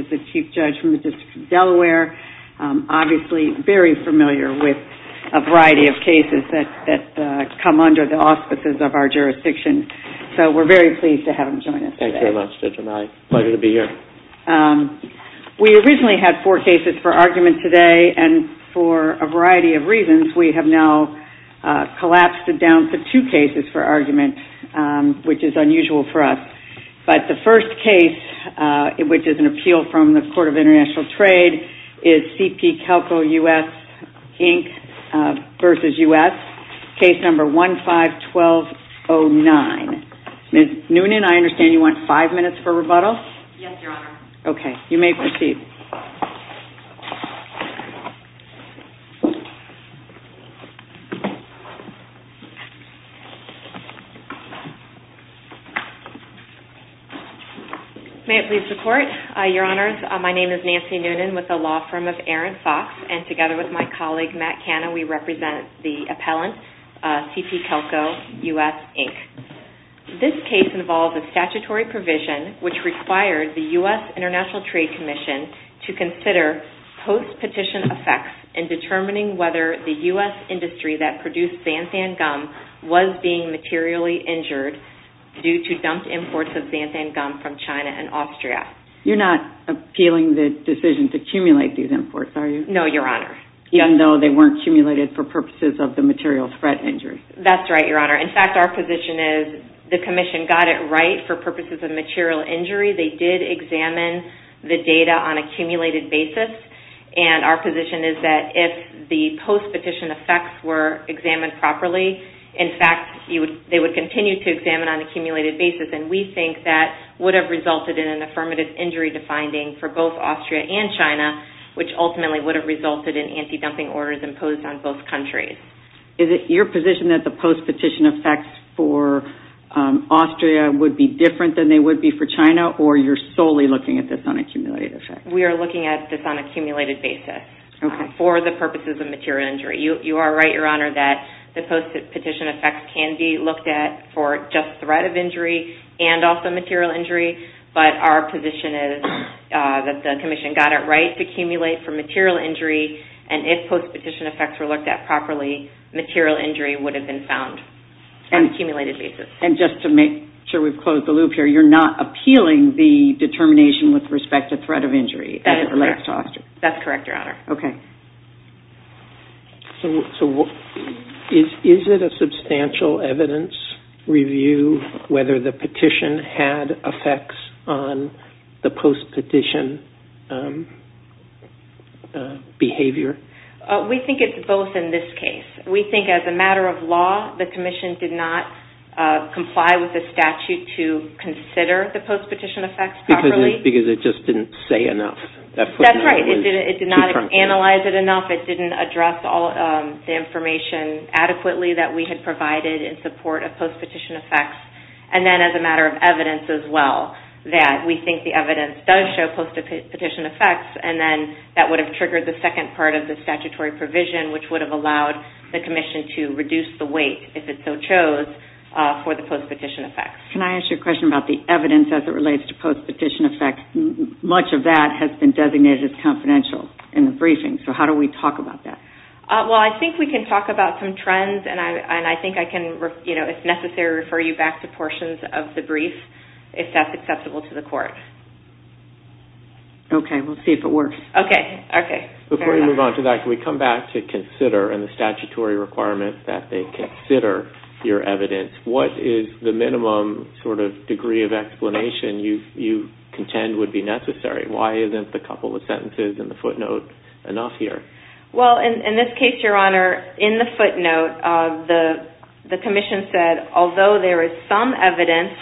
The Chief Judge from the District of Delaware is obviously very familiar with a variety of cases that come under the auspices of our jurisdiction, so we're very pleased to have him join us today. Thank you very much, Judge O'Malley. Pleasure to be here. We originally had four cases for argument today, and for a variety of reasons we have now collapsed it down to two cases for argument, which is unusual for us. But the first case, which is an appeal from the Court of International Trade, is CP Kelco US, Inc. v. United States, case number 151209. Ms. Noonan, I understand you want five minutes for rebuttal? Yes, Your Honor. Okay, you may proceed. May it please the Court, Your Honors, my name is Nancy Noonan with the law firm of Aaron Fox, and together with my colleague, Matt Canna, we represent the appellant, CP Kelco US, Inc. This case involves a statutory provision which requires the U.S. International Trade Commission to consider post-petition effects in determining whether the U.S. industry that produced xanthan gum was being materially injured due to dumped imports of xanthan gum from China and Austria. You're not appealing the decision to accumulate these imports, are you? No, Your Honor. Even though they weren't accumulated for purposes of the material threat injury? That's right, Your Honor. In fact, our position is the Commission got it right for purposes of material injury. They did examine the data on accumulated basis, and our position is that if the post-petition effects were examined properly, in fact, they would continue to examine on accumulated basis. We think that would have resulted in an affirmative injury defining for both Austria and China, which ultimately would have resulted in anti-dumping orders imposed on both countries. Is it your position that the post-petition effects for Austria would be different than they would be for China, or you're solely looking at this on accumulated effect? We are looking at this on accumulated basis for the purposes of material injury. You are right, Your Honor, that the post-petition effects can be looked at for just threat of injury and also material injury, but our position is that the Commission got it right to accumulate for material injury, and if post-petition effects were looked at properly, material injury would have been found on accumulated basis. And just to make sure we've closed the loop here, you're not appealing the determination with respect to threat of injury as it relates to Austria? That's correct, Your Honor. Okay. Is it a substantial evidence review whether the petition had effects on the post-petition behavior? We think it's both in this case. We think as a matter of law, the Commission did not comply with the statute to consider the post-petition effects properly. Because it just didn't say enough. That's right. It did not analyze it enough. It didn't address all the information adequately that we had provided in support of post-petition effects. And then as a matter of evidence as well, that we think the evidence does show post-petition effects, and then that would have triggered the second part of the statutory provision which would have allowed the Commission to reduce the weight, if it so chose, for the post-petition effects. Can I ask you a question about the evidence as it relates to post-petition effects? Much of that has been designated as confidential in the briefing. So how do we talk about that? Well, I think we can talk about some trends, and I think I can, if necessary, refer you back to portions of the brief if that's acceptable to the Court. We'll see if it works. Okay. Okay. Fair enough. Before we move on to that, can we come back to consider and the statutory requirement that they consider your evidence? What is the minimum sort of degree of explanation you contend would be necessary? Why isn't the couple of sentences in the footnote enough here? Well, in this case, Your Honor, in the footnote, the Commission said, although there is some evidence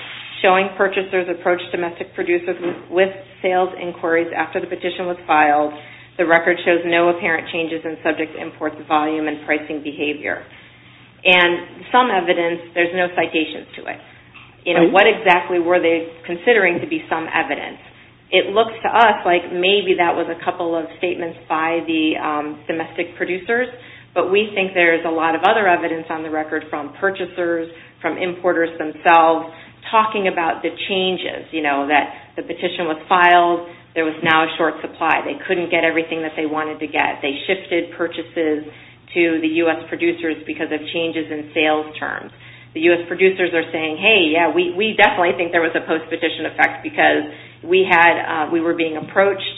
showing purchasers approached domestic producers with sales inquiries after the petition was filed, the record shows no apparent changes in subject to import volume and pricing behavior. And some evidence, there's no citations to it. What exactly were they considering to be some evidence? It looks to us like maybe that was a couple of statements by the domestic producers, but we think there's a lot of other evidence on the record from purchasers, from importers themselves, talking about the changes, that the petition was filed, there was now a short supply. They couldn't get everything that they wanted to get. They shifted purchases to the U.S. producers because of changes in sales terms. The U.S. producers are saying, hey, yeah, we definitely think there was a post-petition effect because we were being approached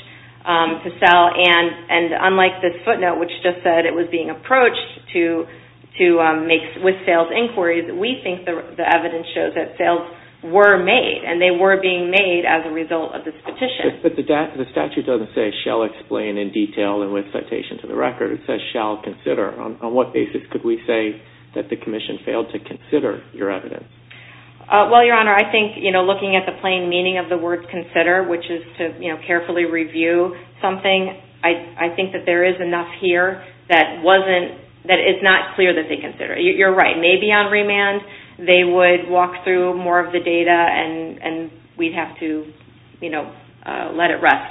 to sell. And unlike this footnote, which just said it was being approached with sales inquiries, we think the evidence shows that sales were made, and they were being made as a result of this petition. But the statute doesn't say shall explain in detail and with citation to the record. It says shall consider. On what basis could we say that the Commission failed to consider your evidence? Well, Your Honor, I think, you know, looking at the plain meaning of the word consider, which is to, you know, carefully review something, I think that there is enough here that wasn't, that it's not clear that they considered. You're right, maybe on remand they would walk through more of the data and we'd have to, you know, let it rest.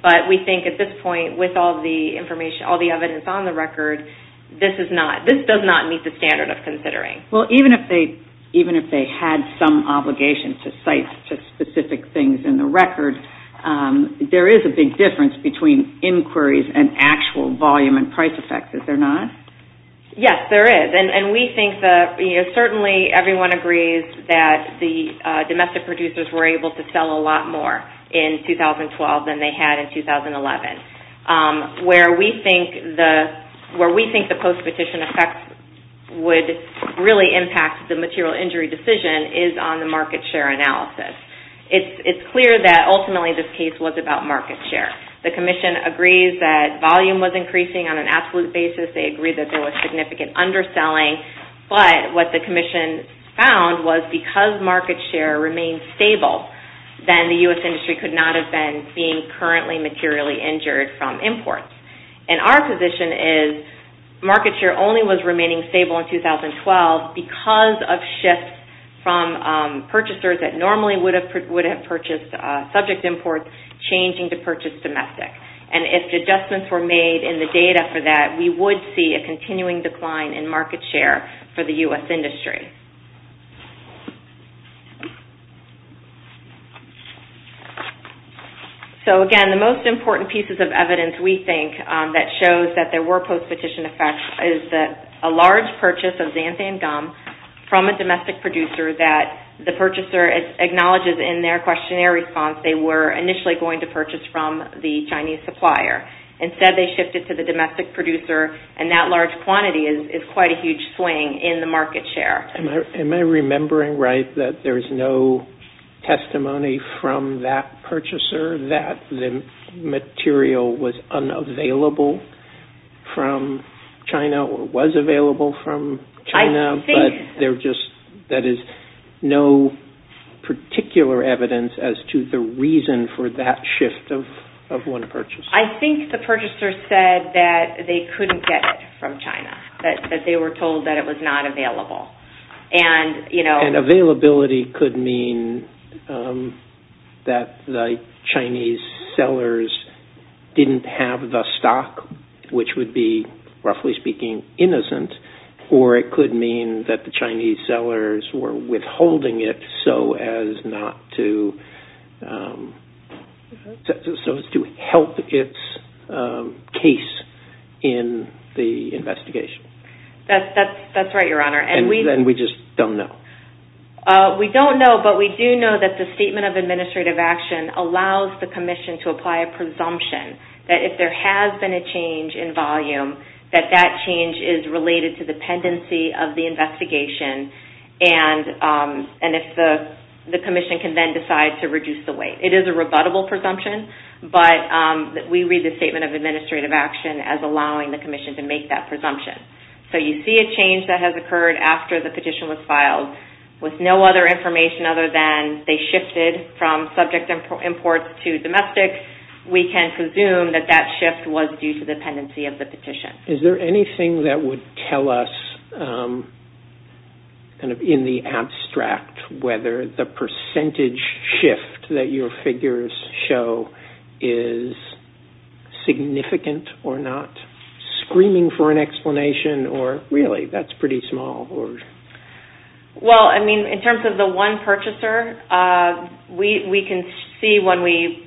But we think at this point, with all the information, all the evidence on the record, this is not, this does not meet the standard of considering. Well, even if they had some obligation to cite specific things in the record, there is a big difference between inquiries and actual volume and price effect, is there not? Yes, there is. And we think that, you know, certainly everyone agrees that the domestic producers were able to sell a lot more in 2012 than they had in 2011. Where we think the post-petition effect would really impact the material injury decision is on the market share analysis. It's clear that ultimately this case was about market share. The Commission agrees that volume was increasing on an absolute basis. They agree that there was significant underselling, but what the Commission found was because market share remained stable, then the U.S. industry could not have been being currently materially injured from imports. And our position is market share only was remaining stable in 2012 because of shifts from purchasers that normally would have purchased subject imports changing to purchase domestic. And if adjustments were made in the data for that, we would see a continuing decline in the U.S. industry. So again, the most important pieces of evidence we think that shows that there were post-petition effects is that a large purchase of xanthan gum from a domestic producer that the purchaser acknowledges in their questionnaire response they were initially going to purchase from the Chinese supplier. Instead, they shifted to the domestic producer and that large quantity is quite a huge swing in the market share. Am I remembering right that there is no testimony from that purchaser that the material was unavailable from China or was available from China, but there just that is no particular evidence as to the reason for that shift of one purchase? I think the purchaser said that they couldn't get it from China, that they were told that it was not available. And availability could mean that the Chinese sellers didn't have the stock, which would be, roughly speaking, innocent, or it could mean that the Chinese sellers were withholding it so as to help its case in the investigation. That's right, Your Honor. And we just don't know? We don't know, but we do know that the Statement of Administrative Action allows the Commission to apply a presumption that if there has been a change in volume, that that change is related to the pendency of the investigation and if the Commission can then decide to reduce the weight. It is a rebuttable presumption, but we read the Statement of Administrative Action as So you see a change that has occurred after the petition was filed with no other information other than they shifted from subject imports to domestic. We can presume that that shift was due to the pendency of the petition. Is there anything that would tell us, in the abstract, whether the percentage shift that really, that's pretty small? Well, I mean, in terms of the one purchaser, we can see when we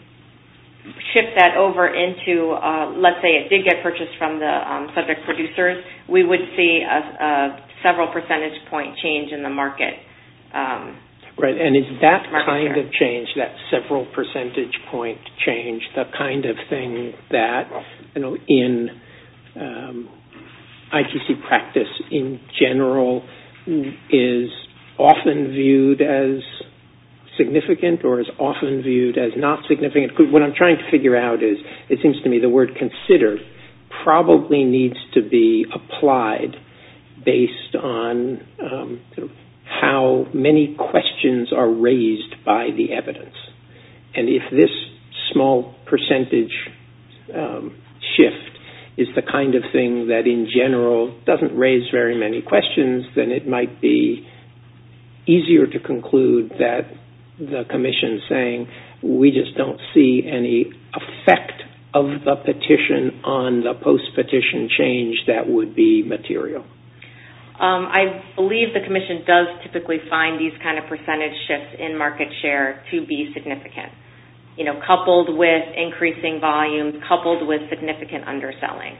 shift that over into, let's say it did get purchased from the subject producers, we would see a several percentage point change in the market share. Right, and is that kind of change, that several percentage point change, the kind of thing that in ITC practice in general is often viewed as significant or is often viewed as not significant? What I'm trying to figure out is, it seems to me, the word considered probably needs to be applied based on how many questions are raised by the evidence and if this small percentage shift is the kind of thing that in general doesn't raise very many questions, then it might be easier to conclude that the Commission is saying, we just don't see any effect of the petition on the post-petition change that would be material. I believe the Commission does typically find these kind of percentage shifts in market share to be significant, coupled with increasing volumes, coupled with significant underselling.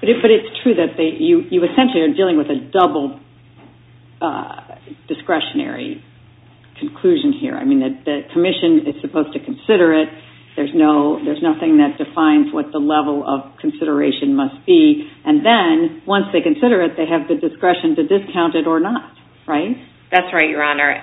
But it's true that you essentially are dealing with a double discretionary conclusion here. I mean, the Commission is supposed to consider it, there's nothing that defines what the level of consideration must be, and then once they consider it, they have the discretion to discount it or not, right? That's right, Your Honor.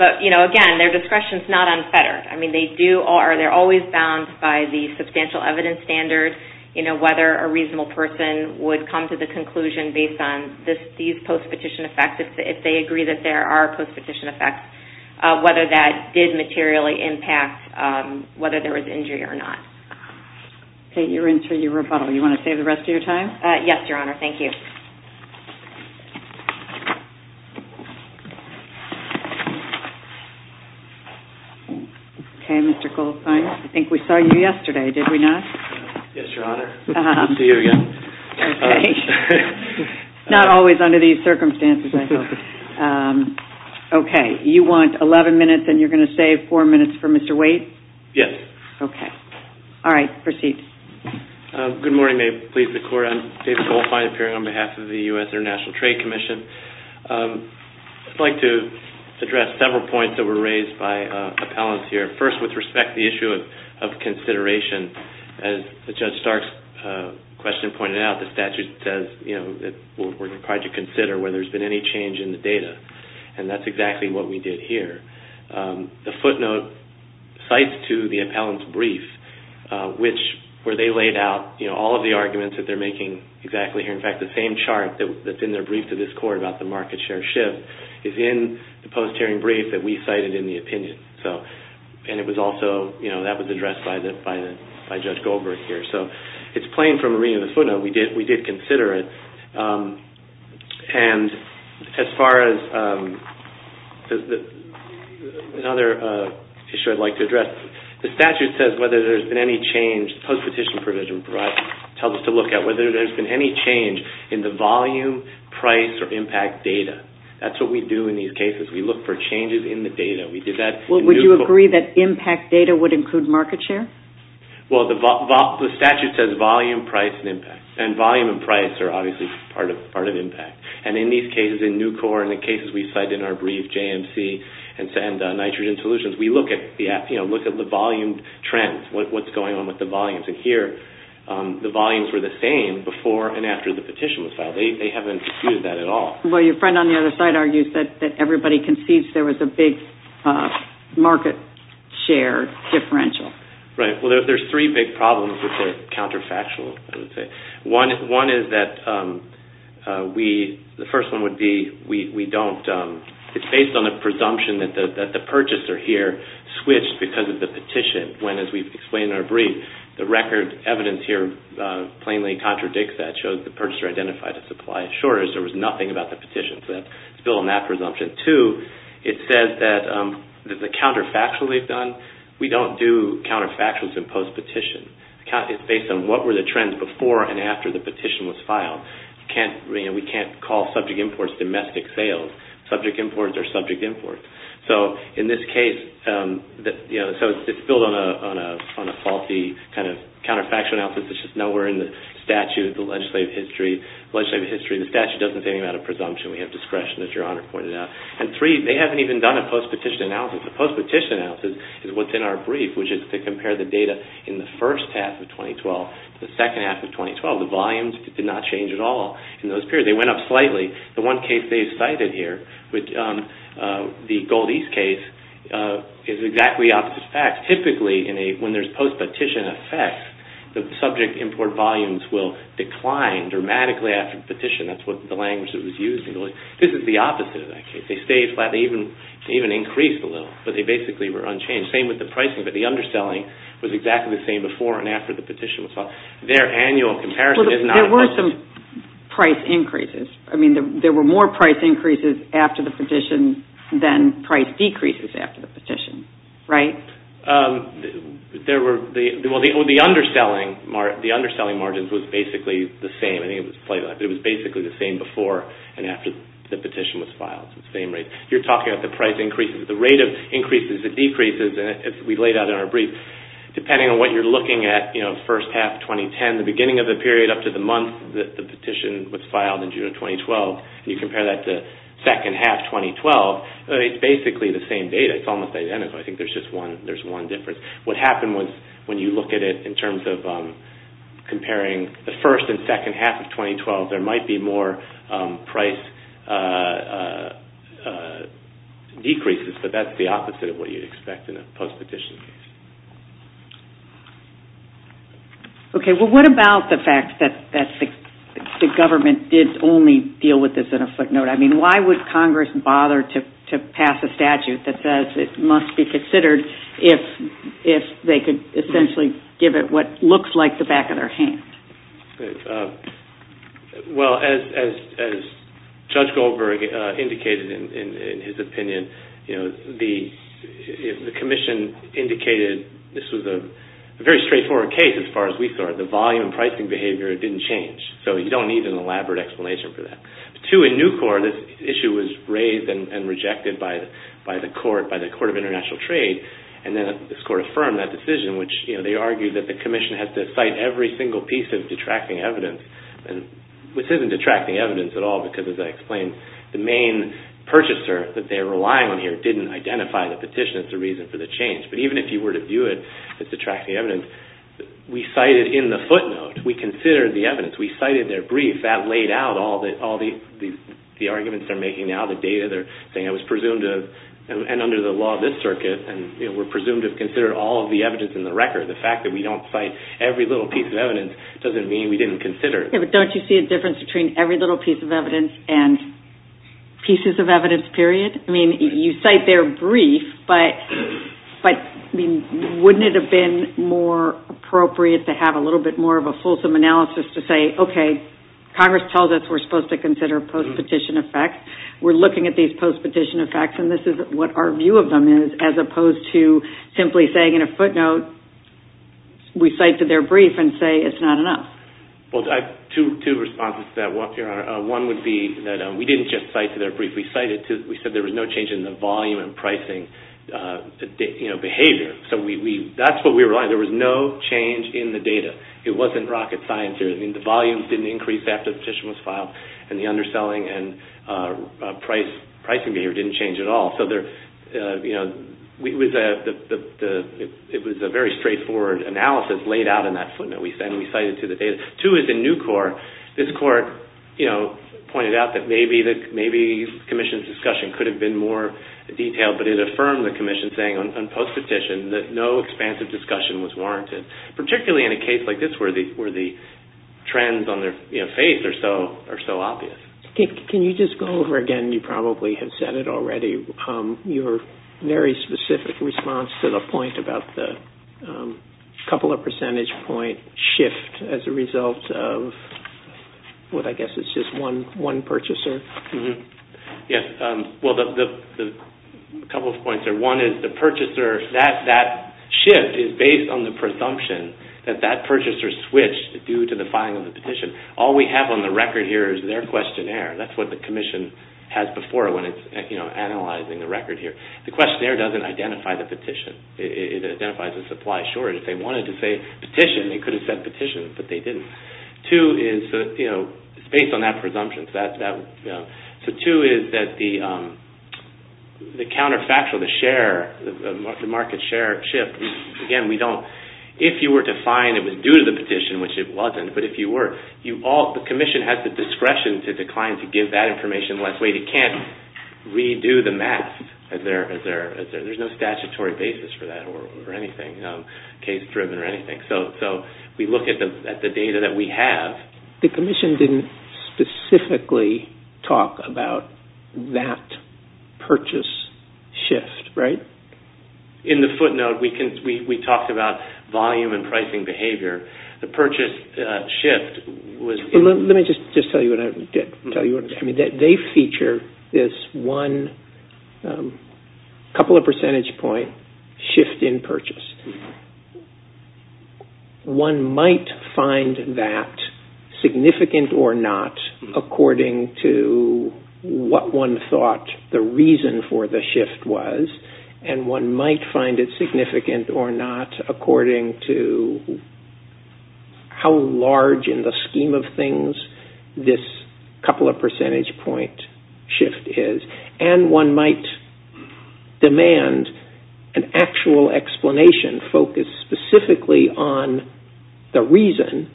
But again, their discretion is not unfettered. I mean, they're always bound by the substantial evidence standard, whether a reasonable person would come to the conclusion based on these post-petition effects, if they agree that there are post-petition effects, whether that did materially impact whether there was injury or not. Kate, you're in for your rebuttal. Do you want to save the rest of your time? Yes, Your Honor. Thank you. Okay, Mr. Goldfein. I think we saw you yesterday, did we not? Yes, Your Honor. Good to see you again. Okay. Not always under these circumstances, I hope. Okay. You want 11 minutes, and you're going to save 4 minutes for Mr. Wade? Yes. Okay. All right, proceed. Good morning. May it please the Court. I'm David Goldfein, appearing on behalf of the U.S. International Trade Commission. I'd like to address several points that were raised by appellants here. First, with respect to the issue of consideration, as Judge Stark's question pointed out, the statute says that we're required to consider whether there's been any change in the data, and that's exactly what we did here. The footnote cites to the appellant's brief, where they laid out all of the arguments that they're making exactly here. In fact, the same chart that's in their brief to this Court about the market share shift is in the post-hearing brief that we cited in the opinion, and that was addressed by Judge Goldberg here. So, it's plain from reading the footnote, we did consider it. As far as another issue I'd like to address, the statute says whether there's been any change in the volume, price, or impact data. That's what we do in these cases. We look for changes in the data. We did that in Nucor. Well, would you agree that impact data would include market share? Well, the statute says volume, price, and impact, and volume and price are obviously part of impact. And in these cases, in Nucor and the cases we cite in our brief, JMC and Nitrogen Solutions, we look at the volume trends, what's going on with the volumes. And here, the volumes were the same before and after the petition was filed. They haven't disputed that at all. Well, your friend on the other side argues that everybody concedes there was a big market share differential. Right. Well, there's three big problems that are counterfactual, I would say. One is that we, the first one would be we don't, it's based on a presumption that the purchaser here switched because of the petition. When, as we've explained in our brief, the record evidence here plainly contradicts that shows the purchaser identified a supply shortage. There was nothing about the petition, so that's built on that presumption. Two, it says that the counterfactual they've done, we don't do counterfactuals in post-petition. It's based on what were the trends before and after the petition was filed. We can't call subject imports domestic sales. Subject imports are subject imports. In this case, it's built on a faulty counterfactual analysis. It's just nowhere in the statute, the legislative history. The statute doesn't say anything about a presumption. We have discretion, as your honor pointed out. Three, they haven't even done a post-petition analysis. A post-petition analysis is what's in our brief, which is to compare the data in the first half of 2012 to the second half of 2012. The volumes did not change at all in those periods. They went up slightly. The one case they've cited here, the Gold East case, is exactly the opposite of fact. Typically, when there's post-petition effects, the subject import volumes will decline dramatically after the petition. That's the language that was used. This is the opposite of that case. They stayed flat. They even increased a little, but they basically were unchanged. Same with the pricing, but the underselling was exactly the same before and after the petition was filed. Their annual comparison is not... There were some price increases. I mean, there were more price increases after the petition than price decreases after the petition, right? The underselling margins was basically the same. It was basically the same before and after the petition was filed. It was the same rate. You're talking about the price increases, the rate of increases, the decreases, as we laid out in our brief. Depending on what you're looking at, first half 2010, the beginning of the period up to the month that the petition was filed in June of 2012, and you compare that to second half 2012, it's basically the same data. It's almost identical. I think there's just one difference. What happened was, when you look at it in terms of comparing the first and second half of 2012, there might be more price decreases, but that's the opposite of what you'd expect in a post-petition case. Okay. Well, what about the fact that the government did only deal with this in a footnote? I mean, why would Congress bother to pass a statute that says it must be considered if they could essentially give it what looks like the back of their hand? Well, as Judge Goldberg indicated in his opinion, you know, the commission indicated this was a very straightforward case as far as we saw it. The volume and pricing behavior didn't change, so you don't need an elaborate explanation for that. Two, in new court, this issue was raised and rejected by the court of international trade, and then this court affirmed that decision, which, you know, they argued that the commission has to cite every single piece of detracting evidence, which isn't detracting evidence at all because, as I explained, the main purchaser that they're relying on here didn't identify the petition as the reason for the change. But even if you were to view it as detracting evidence, we cited in the footnote. We considered the evidence. We cited their brief. That laid out all the arguments they're making now, the data they're saying it was presumed of, and under the law of this circuit, and, you know, we're presumed to have considered all of the evidence in the record. The fact that we don't cite every little piece of evidence doesn't mean we didn't consider it. Yeah, but don't you see a difference between every little piece of evidence and pieces of evidence, period? I mean, you cite their brief, but wouldn't it have been more appropriate to have a little bit more of a fulsome analysis to say, okay, Congress tells us we're supposed to consider post-petition effects. We're looking at these post-petition effects, and this is what our view of them is, as opposed to simply saying in a footnote, we cite to their brief and say it's not enough. Well, I have two responses to that, Your Honor. One would be that we didn't just cite to their brief. We cited to, we said there was no change in the volume and pricing, you know, behavior. So we, that's what we relied on. There was no change in the data. It wasn't rocket science here. I mean, the volumes didn't increase after the petition was filed, and the underselling and pricing behavior didn't change at all. So there, you know, it was a very straightforward analysis laid out in that footnote we sent and we cited to the data. Two is in new court. This court, you know, pointed out that maybe the commission's discussion could have been more detailed, but it affirmed the commission saying on post-petition that no expansive discussion was warranted, particularly in a case like this where the trends on their face are so obvious. Can you just go over again, you probably have said it already, your very specific response to the point about the couple of percentage point shift as a result of what I guess is just one purchaser? Yes. Well, a couple of points there. One is the purchaser, that shift is based on the presumption that that purchaser switched due to the filing of the petition. All we have on the record here is their questionnaire. That's what the commission has before when it's, you know, analyzing the record here. The questionnaire doesn't identify the petition. It identifies the supply. Sure, if they wanted to say petition, they could have said petition, but they didn't. Two is, you know, it's based on that presumption. So two is that the counterfactual, the share, the market share shift, again, we don't, if you were to find it was due to the petition, which it wasn't, but if you were, the commission has the discretion to decline to give that information unless, wait, it can't redo the math. There's no statutory basis for that or anything, you know, case-driven or anything. So we look at the data that we have. The commission didn't specifically talk about that purchase shift, right? In the footnote, we talked about volume and pricing behavior. The purchase shift was... Let me just tell you what I did. They feature this one couple of percentage point shift in purchase. One might find that significant or not according to what one thought the reason for the shift was, and one might find it significant or not according to how large in the scheme of things this couple of percentage point shift is, and one might demand an actual explanation focused specifically on the reason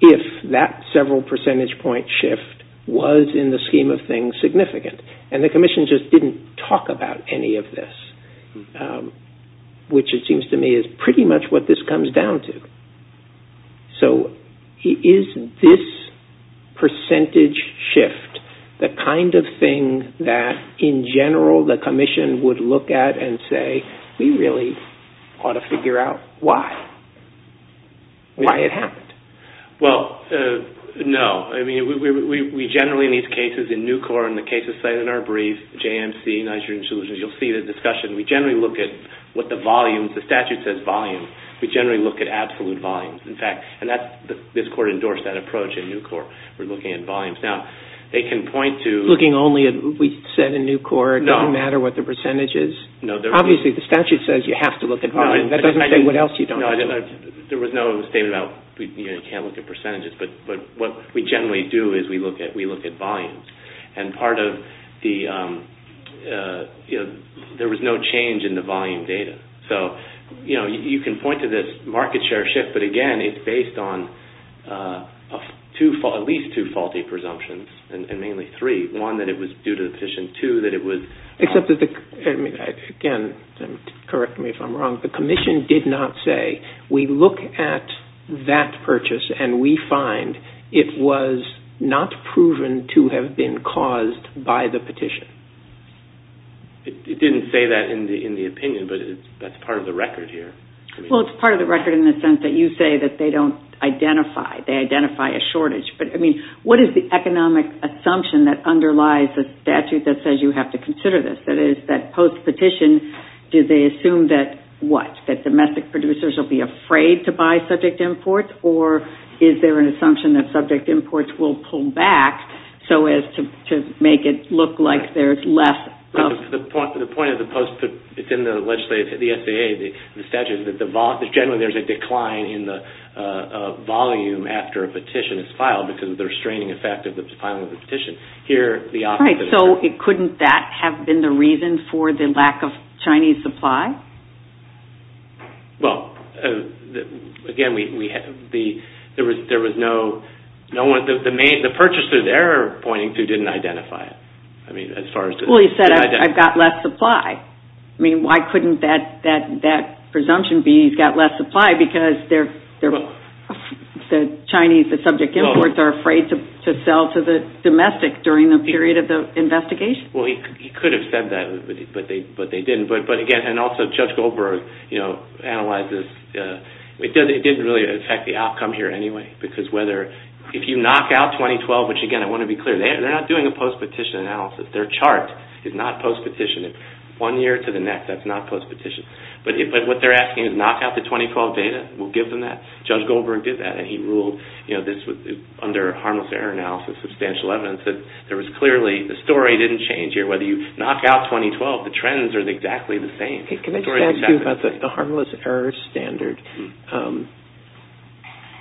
if that several percentage point shift was in the scheme of things significant. And the commission just didn't talk about any of this, which it seems to me is pretty much what this comes down to. So is this percentage shift the kind of thing that, in general, the commission would look at and say, we really ought to figure out why? Why it happened? Well, no. I mean, we generally in these cases, in NUCOR and the cases cited in our brief, JMC, Nigerian Solutions, you'll see the discussion. We generally look at what the volume, the statute says volume. We generally look at absolute volumes. In fact, and this court endorsed that approach in NUCOR. We're looking at volumes. Now, they can point to- Looking only at, we said in NUCOR, it doesn't matter what the percentage is. Obviously, the statute says you have to look at volume. That doesn't say what else you don't have to look at. There was no statement about you can't look at percentages, but what we generally do is we look at volumes. And part of the, there was no change in the volume data. So, you know, you can point to this market share shift, but again, it's based on at least two faulty presumptions and mainly three. One, that it was due to the petition. Two, that it was- Again, correct me if I'm wrong. The commission did not say, we look at that purchase and we find it was not proven to have been caused by the petition. It didn't say that in the opinion, but that's part of the record here. Well, it's part of the record in the sense that you say that they don't identify. They identify a shortage, but I mean, what is the economic assumption that underlies the statute that says you have to consider this? That is, that post-petition, do they assume that what? That domestic producers will be afraid to buy subject imports or is there an assumption that subject imports will pull back so as to make it look like there's less of- The point of the post-petition, the legislative, the SAA, the statute, that generally there's a decline in the volume after a petition is filed because of the restraining effect of the filing of the petition. Here, the opposite- Right, so couldn't that have been the reason for the lack of Chinese supply? Well, again, there was no- The purchaser they're pointing to didn't identify it. I mean, as far as- Well, he said, I've got less supply. I mean, why couldn't that presumption be he's got less supply because the Chinese, the subject imports, are afraid to sell to the domestic during the period of the investigation? Well, he could have said that, but they didn't. But again, and also Judge Goldberg analyzes- It didn't really affect the outcome here anyway because if you knock out 2012, which again, I want to be clear, they're not doing a post-petition analysis. Their chart is not post-petitioned. One year to the next, that's not post-petitioned. But what they're asking is knock out the 2012 data. We'll give them that. Judge Goldberg did that and he ruled under harmless error analysis, substantial evidence, that there was clearly- The story didn't change here. You knock out 2012, the trends are exactly the same. Can I just ask you about the harmless error standard?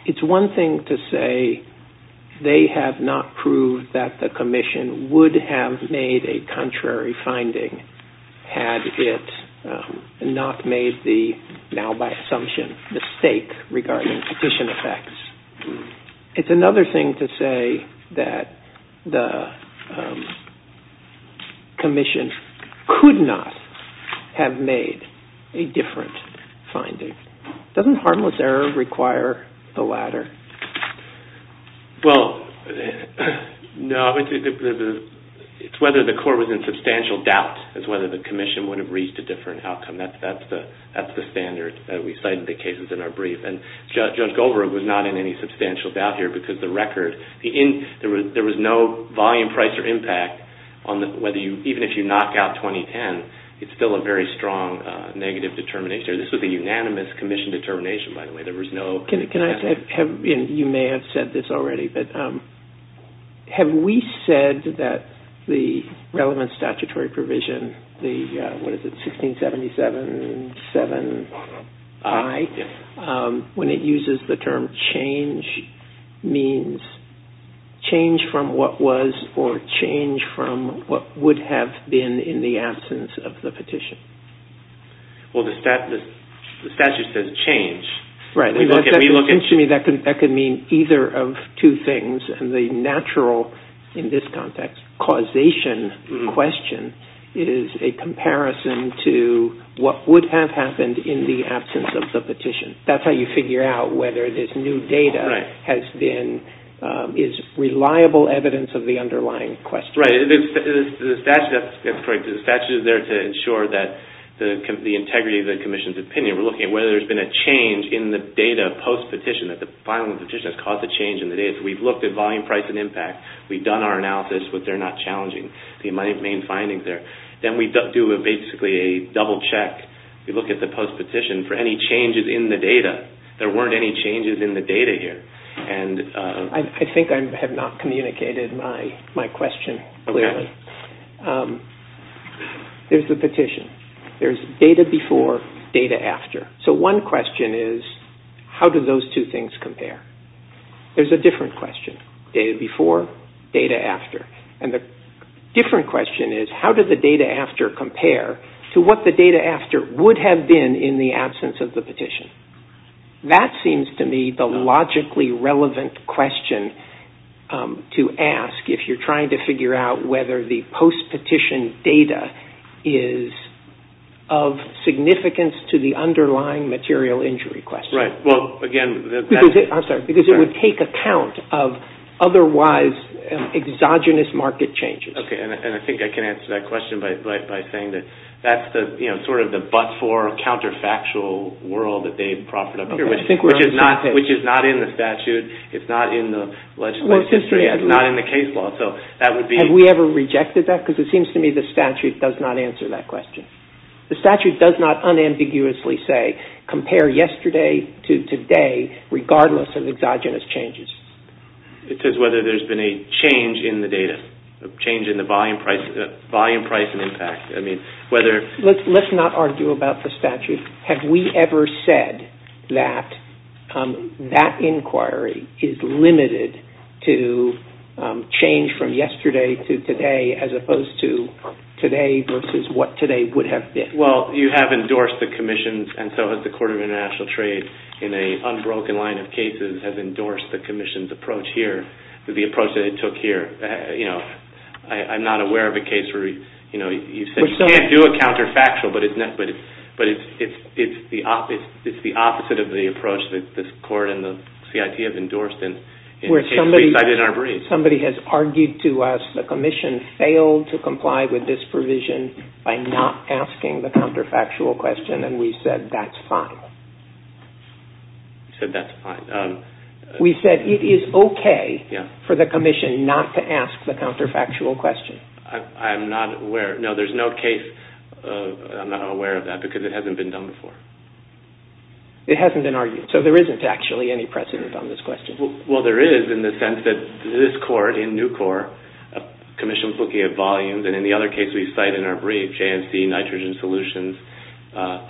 It's one thing to say they have not proved that the commission would have made a contrary finding had it not made the, now by assumption, mistake regarding petition effects. It's another thing to say that the commission could not have made a different finding. Doesn't harmless error require the latter? It's whether the court was in substantial doubt as whether the commission would have reached a different outcome. That's the standard that we cite in the cases in our brief. Judge Goldberg was not in any substantial doubt here because the record, there was no volume, price or impact on whether you, even if you knock out 2010, it's still a very strong negative determination. This was a unanimous commission determination, by the way. Can I say, you may have said this already, but have we said that the relevant statutory provision, the, what is it, 1677-7-I, when it uses the term change means change from what was or change from what would have been in the absence of the petition? Well, the statute says change. Right. To me, that could mean either of two things. The natural, in this context, causation question is a comparison to what would have happened in the absence of the petition. That's how you figure out whether this new data has been, is reliable evidence of the underlying question. Right. The statute is there to ensure that the integrity of the commission's opinion. We're looking at whether there's been a change in the data post-petition, that the filing of the petition has caused a change in the data. We've looked at volume, price and impact. We've done our analysis, but they're not challenging. The main findings there. Then we do basically a double check. We look at the post-petition for any changes in the data. There weren't any changes in the data here. I think I have not communicated my question clearly. Okay. There's the petition. There's data before, data after. So one question is, how do those two things compare? There's a different question. Data before, data after. The different question is, how does the data after compare to what the data after would have been in the absence of the petition? That seems to me the logically relevant question to ask if you're trying to figure out whether the post-petition data is of significance to the underlying material injury question. Right. Well, again... I'm sorry. Because it would take account of otherwise exogenous market changes. Okay. And I think I can answer that question by saying that that's sort of the but-for counterfactual world that they proffered up here, which is not in the statute. It's not in the legislative history. It's not in the case law. So that would be... Have we ever rejected that? Because it seems to me the statute does not answer that question. The statute does not unambiguously say compare yesterday to today regardless of exogenous changes. It says whether there's been a change in the data, a change in the volume, price, and impact. I mean, whether... Let's not argue about the statute. Have we ever said that that inquiry is limited to change from yesterday to today as opposed to today versus what today would have been? Well, you have endorsed the commissions, and so has the Court of International Trade in an unbroken line of cases has endorsed the commission's approach here, the approach that it took here. You know, I'm not aware of a case where, you know, you said you can't do a counterfactual, but it's the opposite of the approach that this court and the CIT have endorsed and... Somebody has argued to us the commission failed to comply with this provision by not asking the counterfactual question, and that's fine. You said that's fine. We said it is okay for the commission not to ask the counterfactual question. I'm not aware... No, there's no case... I'm not aware of that because it hasn't been done before. It hasn't been argued, so there isn't actually any precedent on this question. Well, there is in the sense that this court, in new court, commissions looking at volumes, and in the other case we cite in our brief, J&C, nitrogen solutions,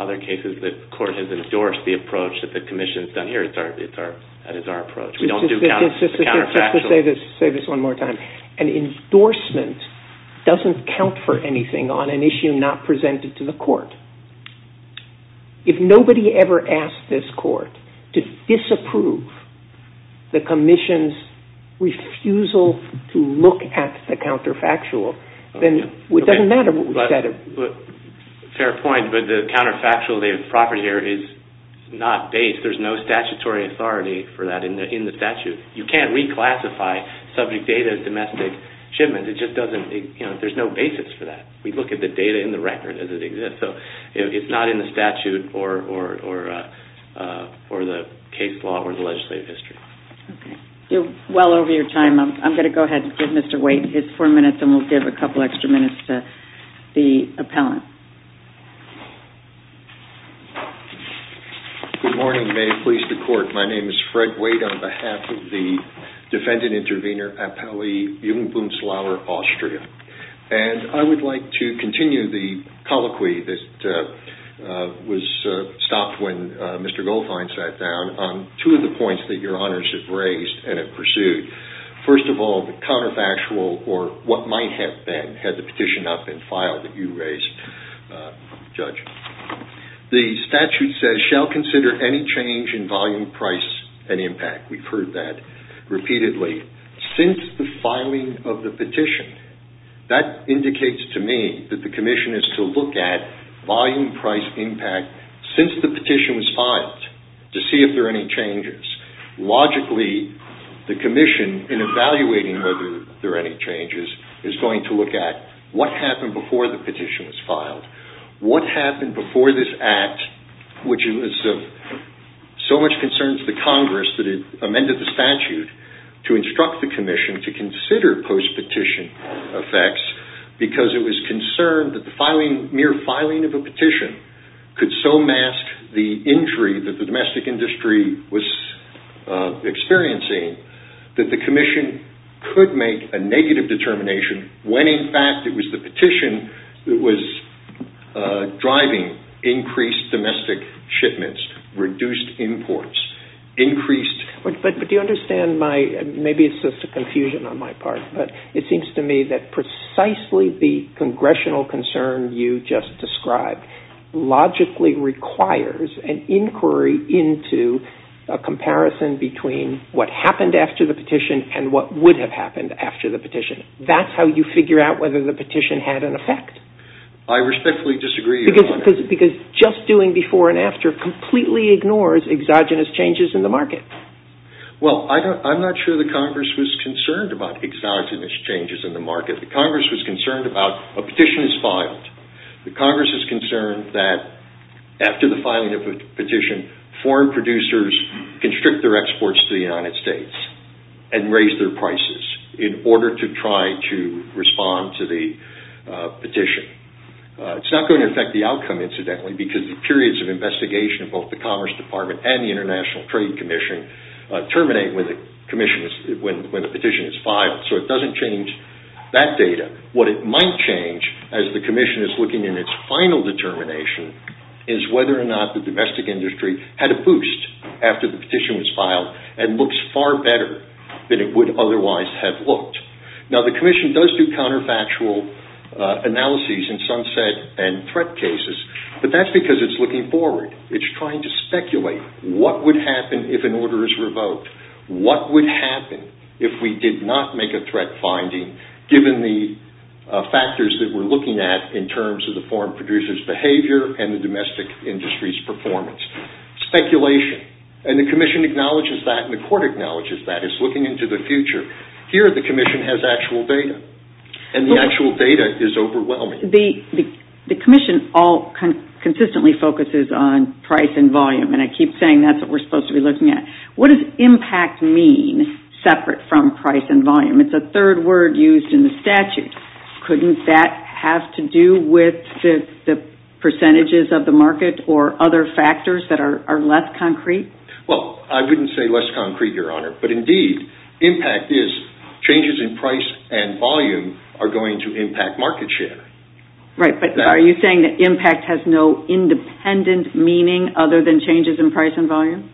other cases that the court has endorsed the approach that the commission has done here. That is our approach. We don't do counterfactuals. Just to say this one more time, an endorsement doesn't count for anything on an issue not presented to the court. If nobody ever asked this court to disapprove the commission's refusal to look at the counterfactual, then it doesn't matter what we said. Fair point, but the counterfactual property here is not based. There's no statutory authority for that in the statute. You can't reclassify subject data as domestic shipment. There's no basis for that. We look at the data in the record as it exists. It's not in the statute or the case law or the legislative history. Okay. Well over your time, I'm going to go ahead and give Mr. Waite his four minutes and we'll give a couple extra minutes to the appellant. Good morning. May it please the court. My name is Fred Waite on behalf of the defendant intervener appellee Jungbunzlauer, Austria. I would like to continue the colloquy that was stopped when Mr. Goldfein sat down on two of the points that your honors have raised and have pursued. First of all, the counterfactual or what might have been had the petition not been filed that you raised, Judge. The statute says shall consider any change in volume, price, and impact. We've heard that repeatedly. Since the filing of the petition, that indicates to me that the commission is to look at volume, price, impact since the petition was filed to see if there are any changes. Logically, the commission in evaluating whether there are any changes is going to look at what happened before the petition was filed. What happened before this act, which was of so much concern to the Congress that it amended the statute to instruct the commission to consider post-petition effects because it was concerned that the mere filing of a petition could so mask the injury that the domestic industry was experiencing that the commission could make a negative determination when in fact it was the petition that was driving increased domestic shipments, reduced imports, increased... But do you understand my... Maybe it's just a confusion on my part, but it seems to me that precisely the congressional concern you just described logically requires an inquiry into a comparison between what happened after the petition and what would have happened after the petition. That's how you figure out whether the petition had an effect. I respectfully disagree. Because just doing before and after completely ignores exogenous changes in the market. Well, I'm not sure the Congress was concerned about exogenous changes in the market. The Congress was concerned about a petition is filed, the Congress is concerned that after the filing of the petition, foreign producers constrict their exports to the United States and raise their prices in order to try to respond to the petition. It's not going to affect the outcome, incidentally, because the periods of investigation of both the Commerce Department and the International Trade Commission terminate when the petition is filed. So it doesn't change that data. What it might change, as the Commission is looking in its final determination, is whether or not the domestic industry had a boost after the petition was filed and looks far better than it would otherwise have looked. Now, the Commission does do counterfactual analyses in sunset and threat cases, but that's because it's looking forward. It's trying to speculate what would happen if an order is revoked. What would happen if we did not make a threat finding, given the factors that we're looking at in terms of the foreign producer's behavior and the domestic industry's performance? Speculation. And the Commission acknowledges that and the Court acknowledges that. It's looking into the future. Here, the Commission has actual data, and the actual data is overwhelming. The Commission all consistently focuses on price and volume, and I keep saying that's what we're supposed to be looking at. What does impact mean, separate from price and volume? It's a third word used in the statute. Couldn't that have to do with the percentages of the market or other factors that are less concrete? Well, I wouldn't say less concrete, Your Honor, but indeed, impact is changes in price and volume are going to impact market share. Right, but are you saying that impact has no independent meaning other than changes in price and volume?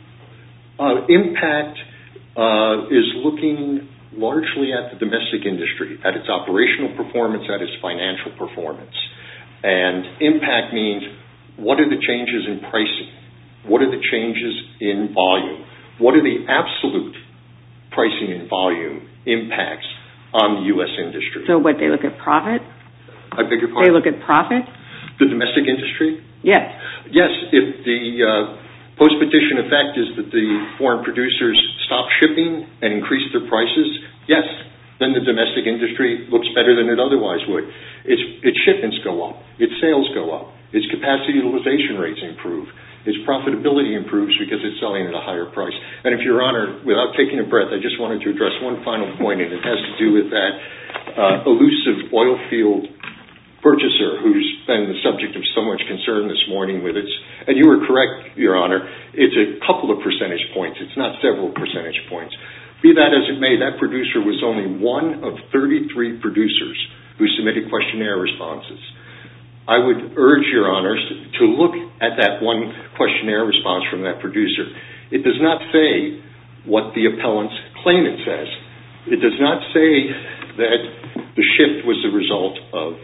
Impact is looking largely at the domestic industry, at its operational performance, at its financial performance, and impact means what are the changes in pricing? What are the changes in volume? What are the absolute pricing and volume impacts on the U.S. industry? So what, they look at profit? I beg your pardon? They look at profit? The domestic industry? Yes. Yes, if the post-petition effect is that the foreign producers stop shipping and increase their prices, yes, then the domestic industry looks better than it otherwise would. Its shipments go up. Its sales go up. Its capacity utilization rates improve. Its profitability improves because it's selling at a higher price. And if Your Honor, without taking a breath, I just wanted to address one final point and it has to do with that elusive oil field purchaser who's been the subject of so much concern this morning with its, and you were correct, Your Honor, it's a couple of percentage points. It's not several percentage points. Be that as it may, that producer was only one of 33 producers who submitted questionnaire responses. I would urge, Your Honor, to look at that one questionnaire response from that producer. It does not say what the appellant's claimant says. It does not say that the shift was the result of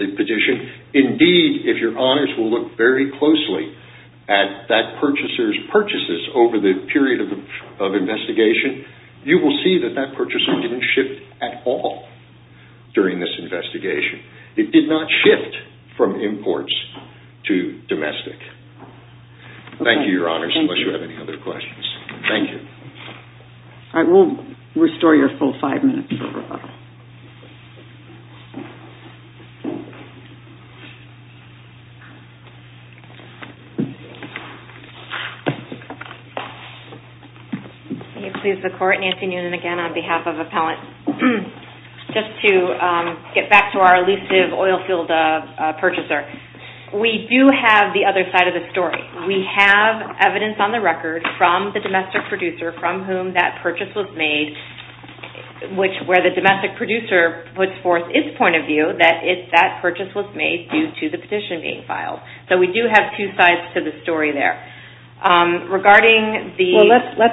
the petition. Indeed, if Your Honors will look very closely at that purchaser's purchases over the period of investigation, you will see that that purchaser didn't shift at all during this investigation. It did not shift from imports to domestic. Thank you, Your Honors, unless you have any other questions. Thank you. All right, we'll restore your full five minutes. May it please the Court, Nancy Noonan again on behalf of appellants. Just to get back to our elusive oil field purchaser. We do have the other side of the story. We have evidence on the record from the domestic producer from whom that purchase was made, which where the domestic producer that if that purchase was made and it was made by the domestic producer, it was made due to the petition being filed. We do have two sides to the story there. Let's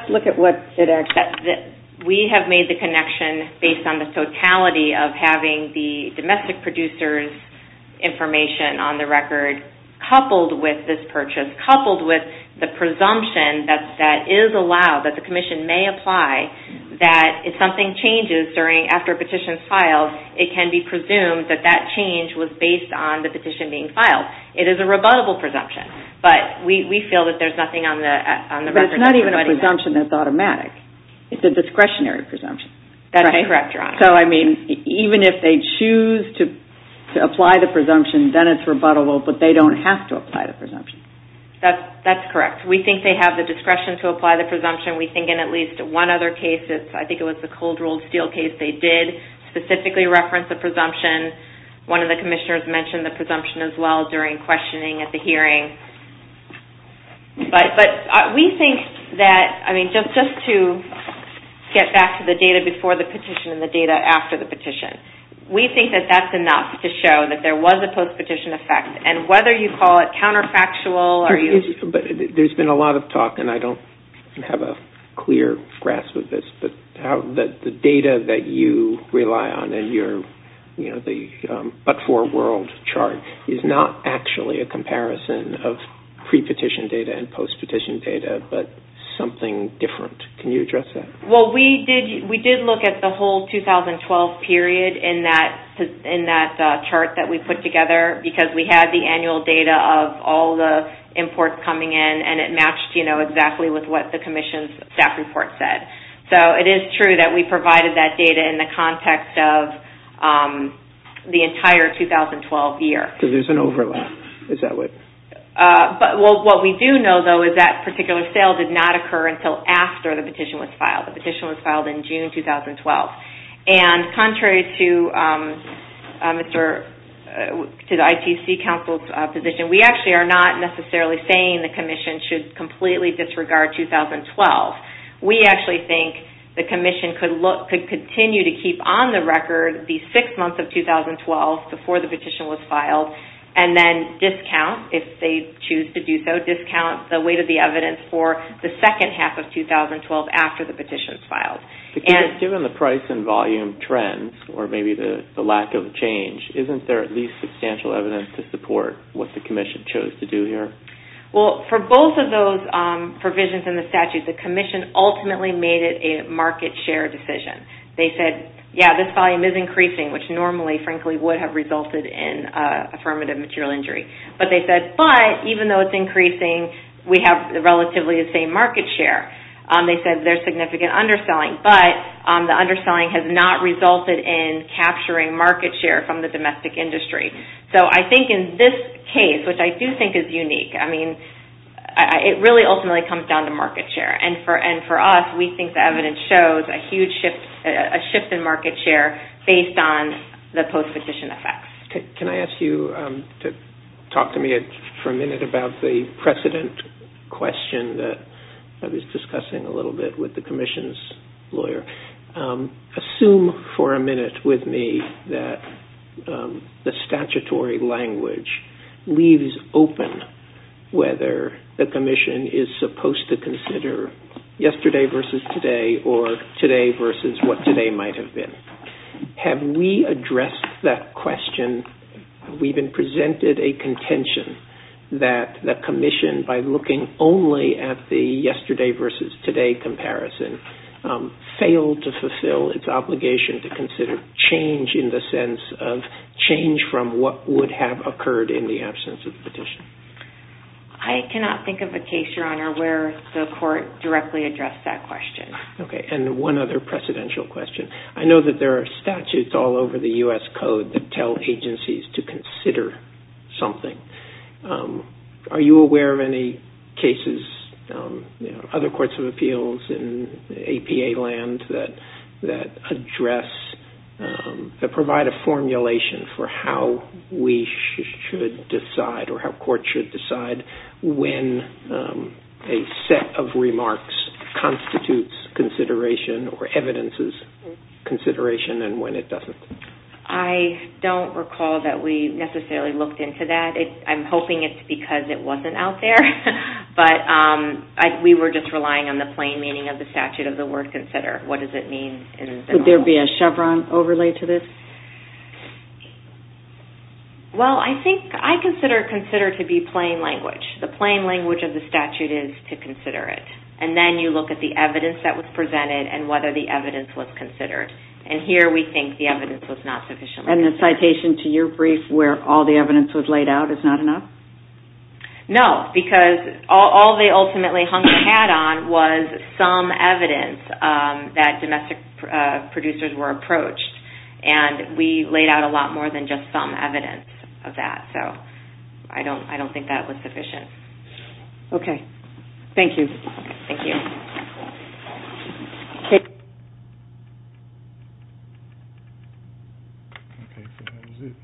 look at what it actually says. We have made the connection based on the totality of having the domestic producer's information on the record coupled with this purchase, coupled with the presumption that is allowed, that the Commission may apply, that if something changes after a petition is filed, it can be presumed that that change was based on the petition being filed. It is a rebuttable presumption, but we feel that there's nothing on the record. But it's not even a presumption that's automatic. It's a discretionary presumption. That's correct, Your Honor. So, I mean, even if they choose to apply the presumption, then it's rebuttable, but they don't have to apply the presumption. That's correct. We think they have the discretion to apply the presumption. We think in at least one other case, I think it was the Cold Ruled Steel case, they did specifically reference the presumption. One of the commissioners mentioned the presumption as well during questioning at the hearing. But we think that, I mean, just to get back to the data before the petition and the data after the petition, we think that that's enough to show that there was a post-petition effect. And whether you call it counterfactual, or you... There's been a lot of talk, and I don't have a clear grasp of this, but the data that you rely on and the But For World chart is not actually a comparison of pre-petition data and post-petition data, but something different. Can you address that? Well, we did look at the whole 2012 period in that chart that we put together because we had the annual data of all the imports coming in, and it matched exactly with what the commission's staff report said. So, it is true that we provided that data in the context of the entire 2012 year. Because there's an overlap. Is that what... But what we do know, though, is that particular sale did not occur until after the petition was filed. The petition was filed in June 2012. And contrary to the ITC Council's position, we actually are not necessarily saying the commission should completely disregard 2012. We actually think the commission could continue to keep on the record the 6 months of 2012 before the petition was filed and then discount, if they choose to do so, discount the weight of the evidence for the second half of 2012 after the petition's filed. Given the price and volume trends or maybe the lack of change, isn't there at least substantial evidence to support what the commission chose to do here? Well, for both of those provisions in the statute, the commission ultimately made it a market share decision. They said, yeah, this volume is increasing, which normally, frankly, would have resulted in affirmative material injury. But they said, but even though it's increasing, we have relatively the same market share. They said there's significant underselling, but the underselling has not resulted in capturing market share from the domestic industry. So I think in this case, which I do think is unique, I mean, it really ultimately comes down to market share. And for us, we think the evidence shows a huge shift in market share based on the post-petition effects. Can I ask you to talk to me for a minute about the precedent question that I was discussing a little bit with the commission's lawyer? Assume for a minute with me that the statutory language leaves open whether the commission is supposed to consider yesterday versus today or today versus what today might have been. Have we addressed that question? Have we even presented a contention that the commission, by looking only at the yesterday versus today comparison, failed to fulfill its obligation to consider change in the sense of change from what would have occurred in the absence of the petition? I cannot think of a case, Your Honor, where the court directly addressed that question. Okay. And one other precedential question. I know that there are statutes all over the U.S. Code that tell agencies to consider something. Are you aware of any cases, you know, other courts of appeals in APA land that address, that provide a formulation for how we should decide or how courts should decide when a set of remarks constitutes consideration or evidences consideration and when it doesn't? I don't recall that we necessarily looked into that. I'm hoping it's because it wasn't out there. But we were just relying on the plain meaning of the statute of the word consider. What does it mean? Could there be a Chevron overlay to this? Well, I think consider to be plain language. The plain language of the statute is to consider it. And then you look at the evidence that was presented and whether the evidence was considered. And here we think the evidence was not sufficiently considered. And the citation to your brief where all the evidence was laid out is not enough? No, because all they ultimately hung the hat on was some evidence that domestic producers were approached. And we laid out a lot more than just some evidence of that. So I don't think that was sufficient. Okay. Thank you. Thank you.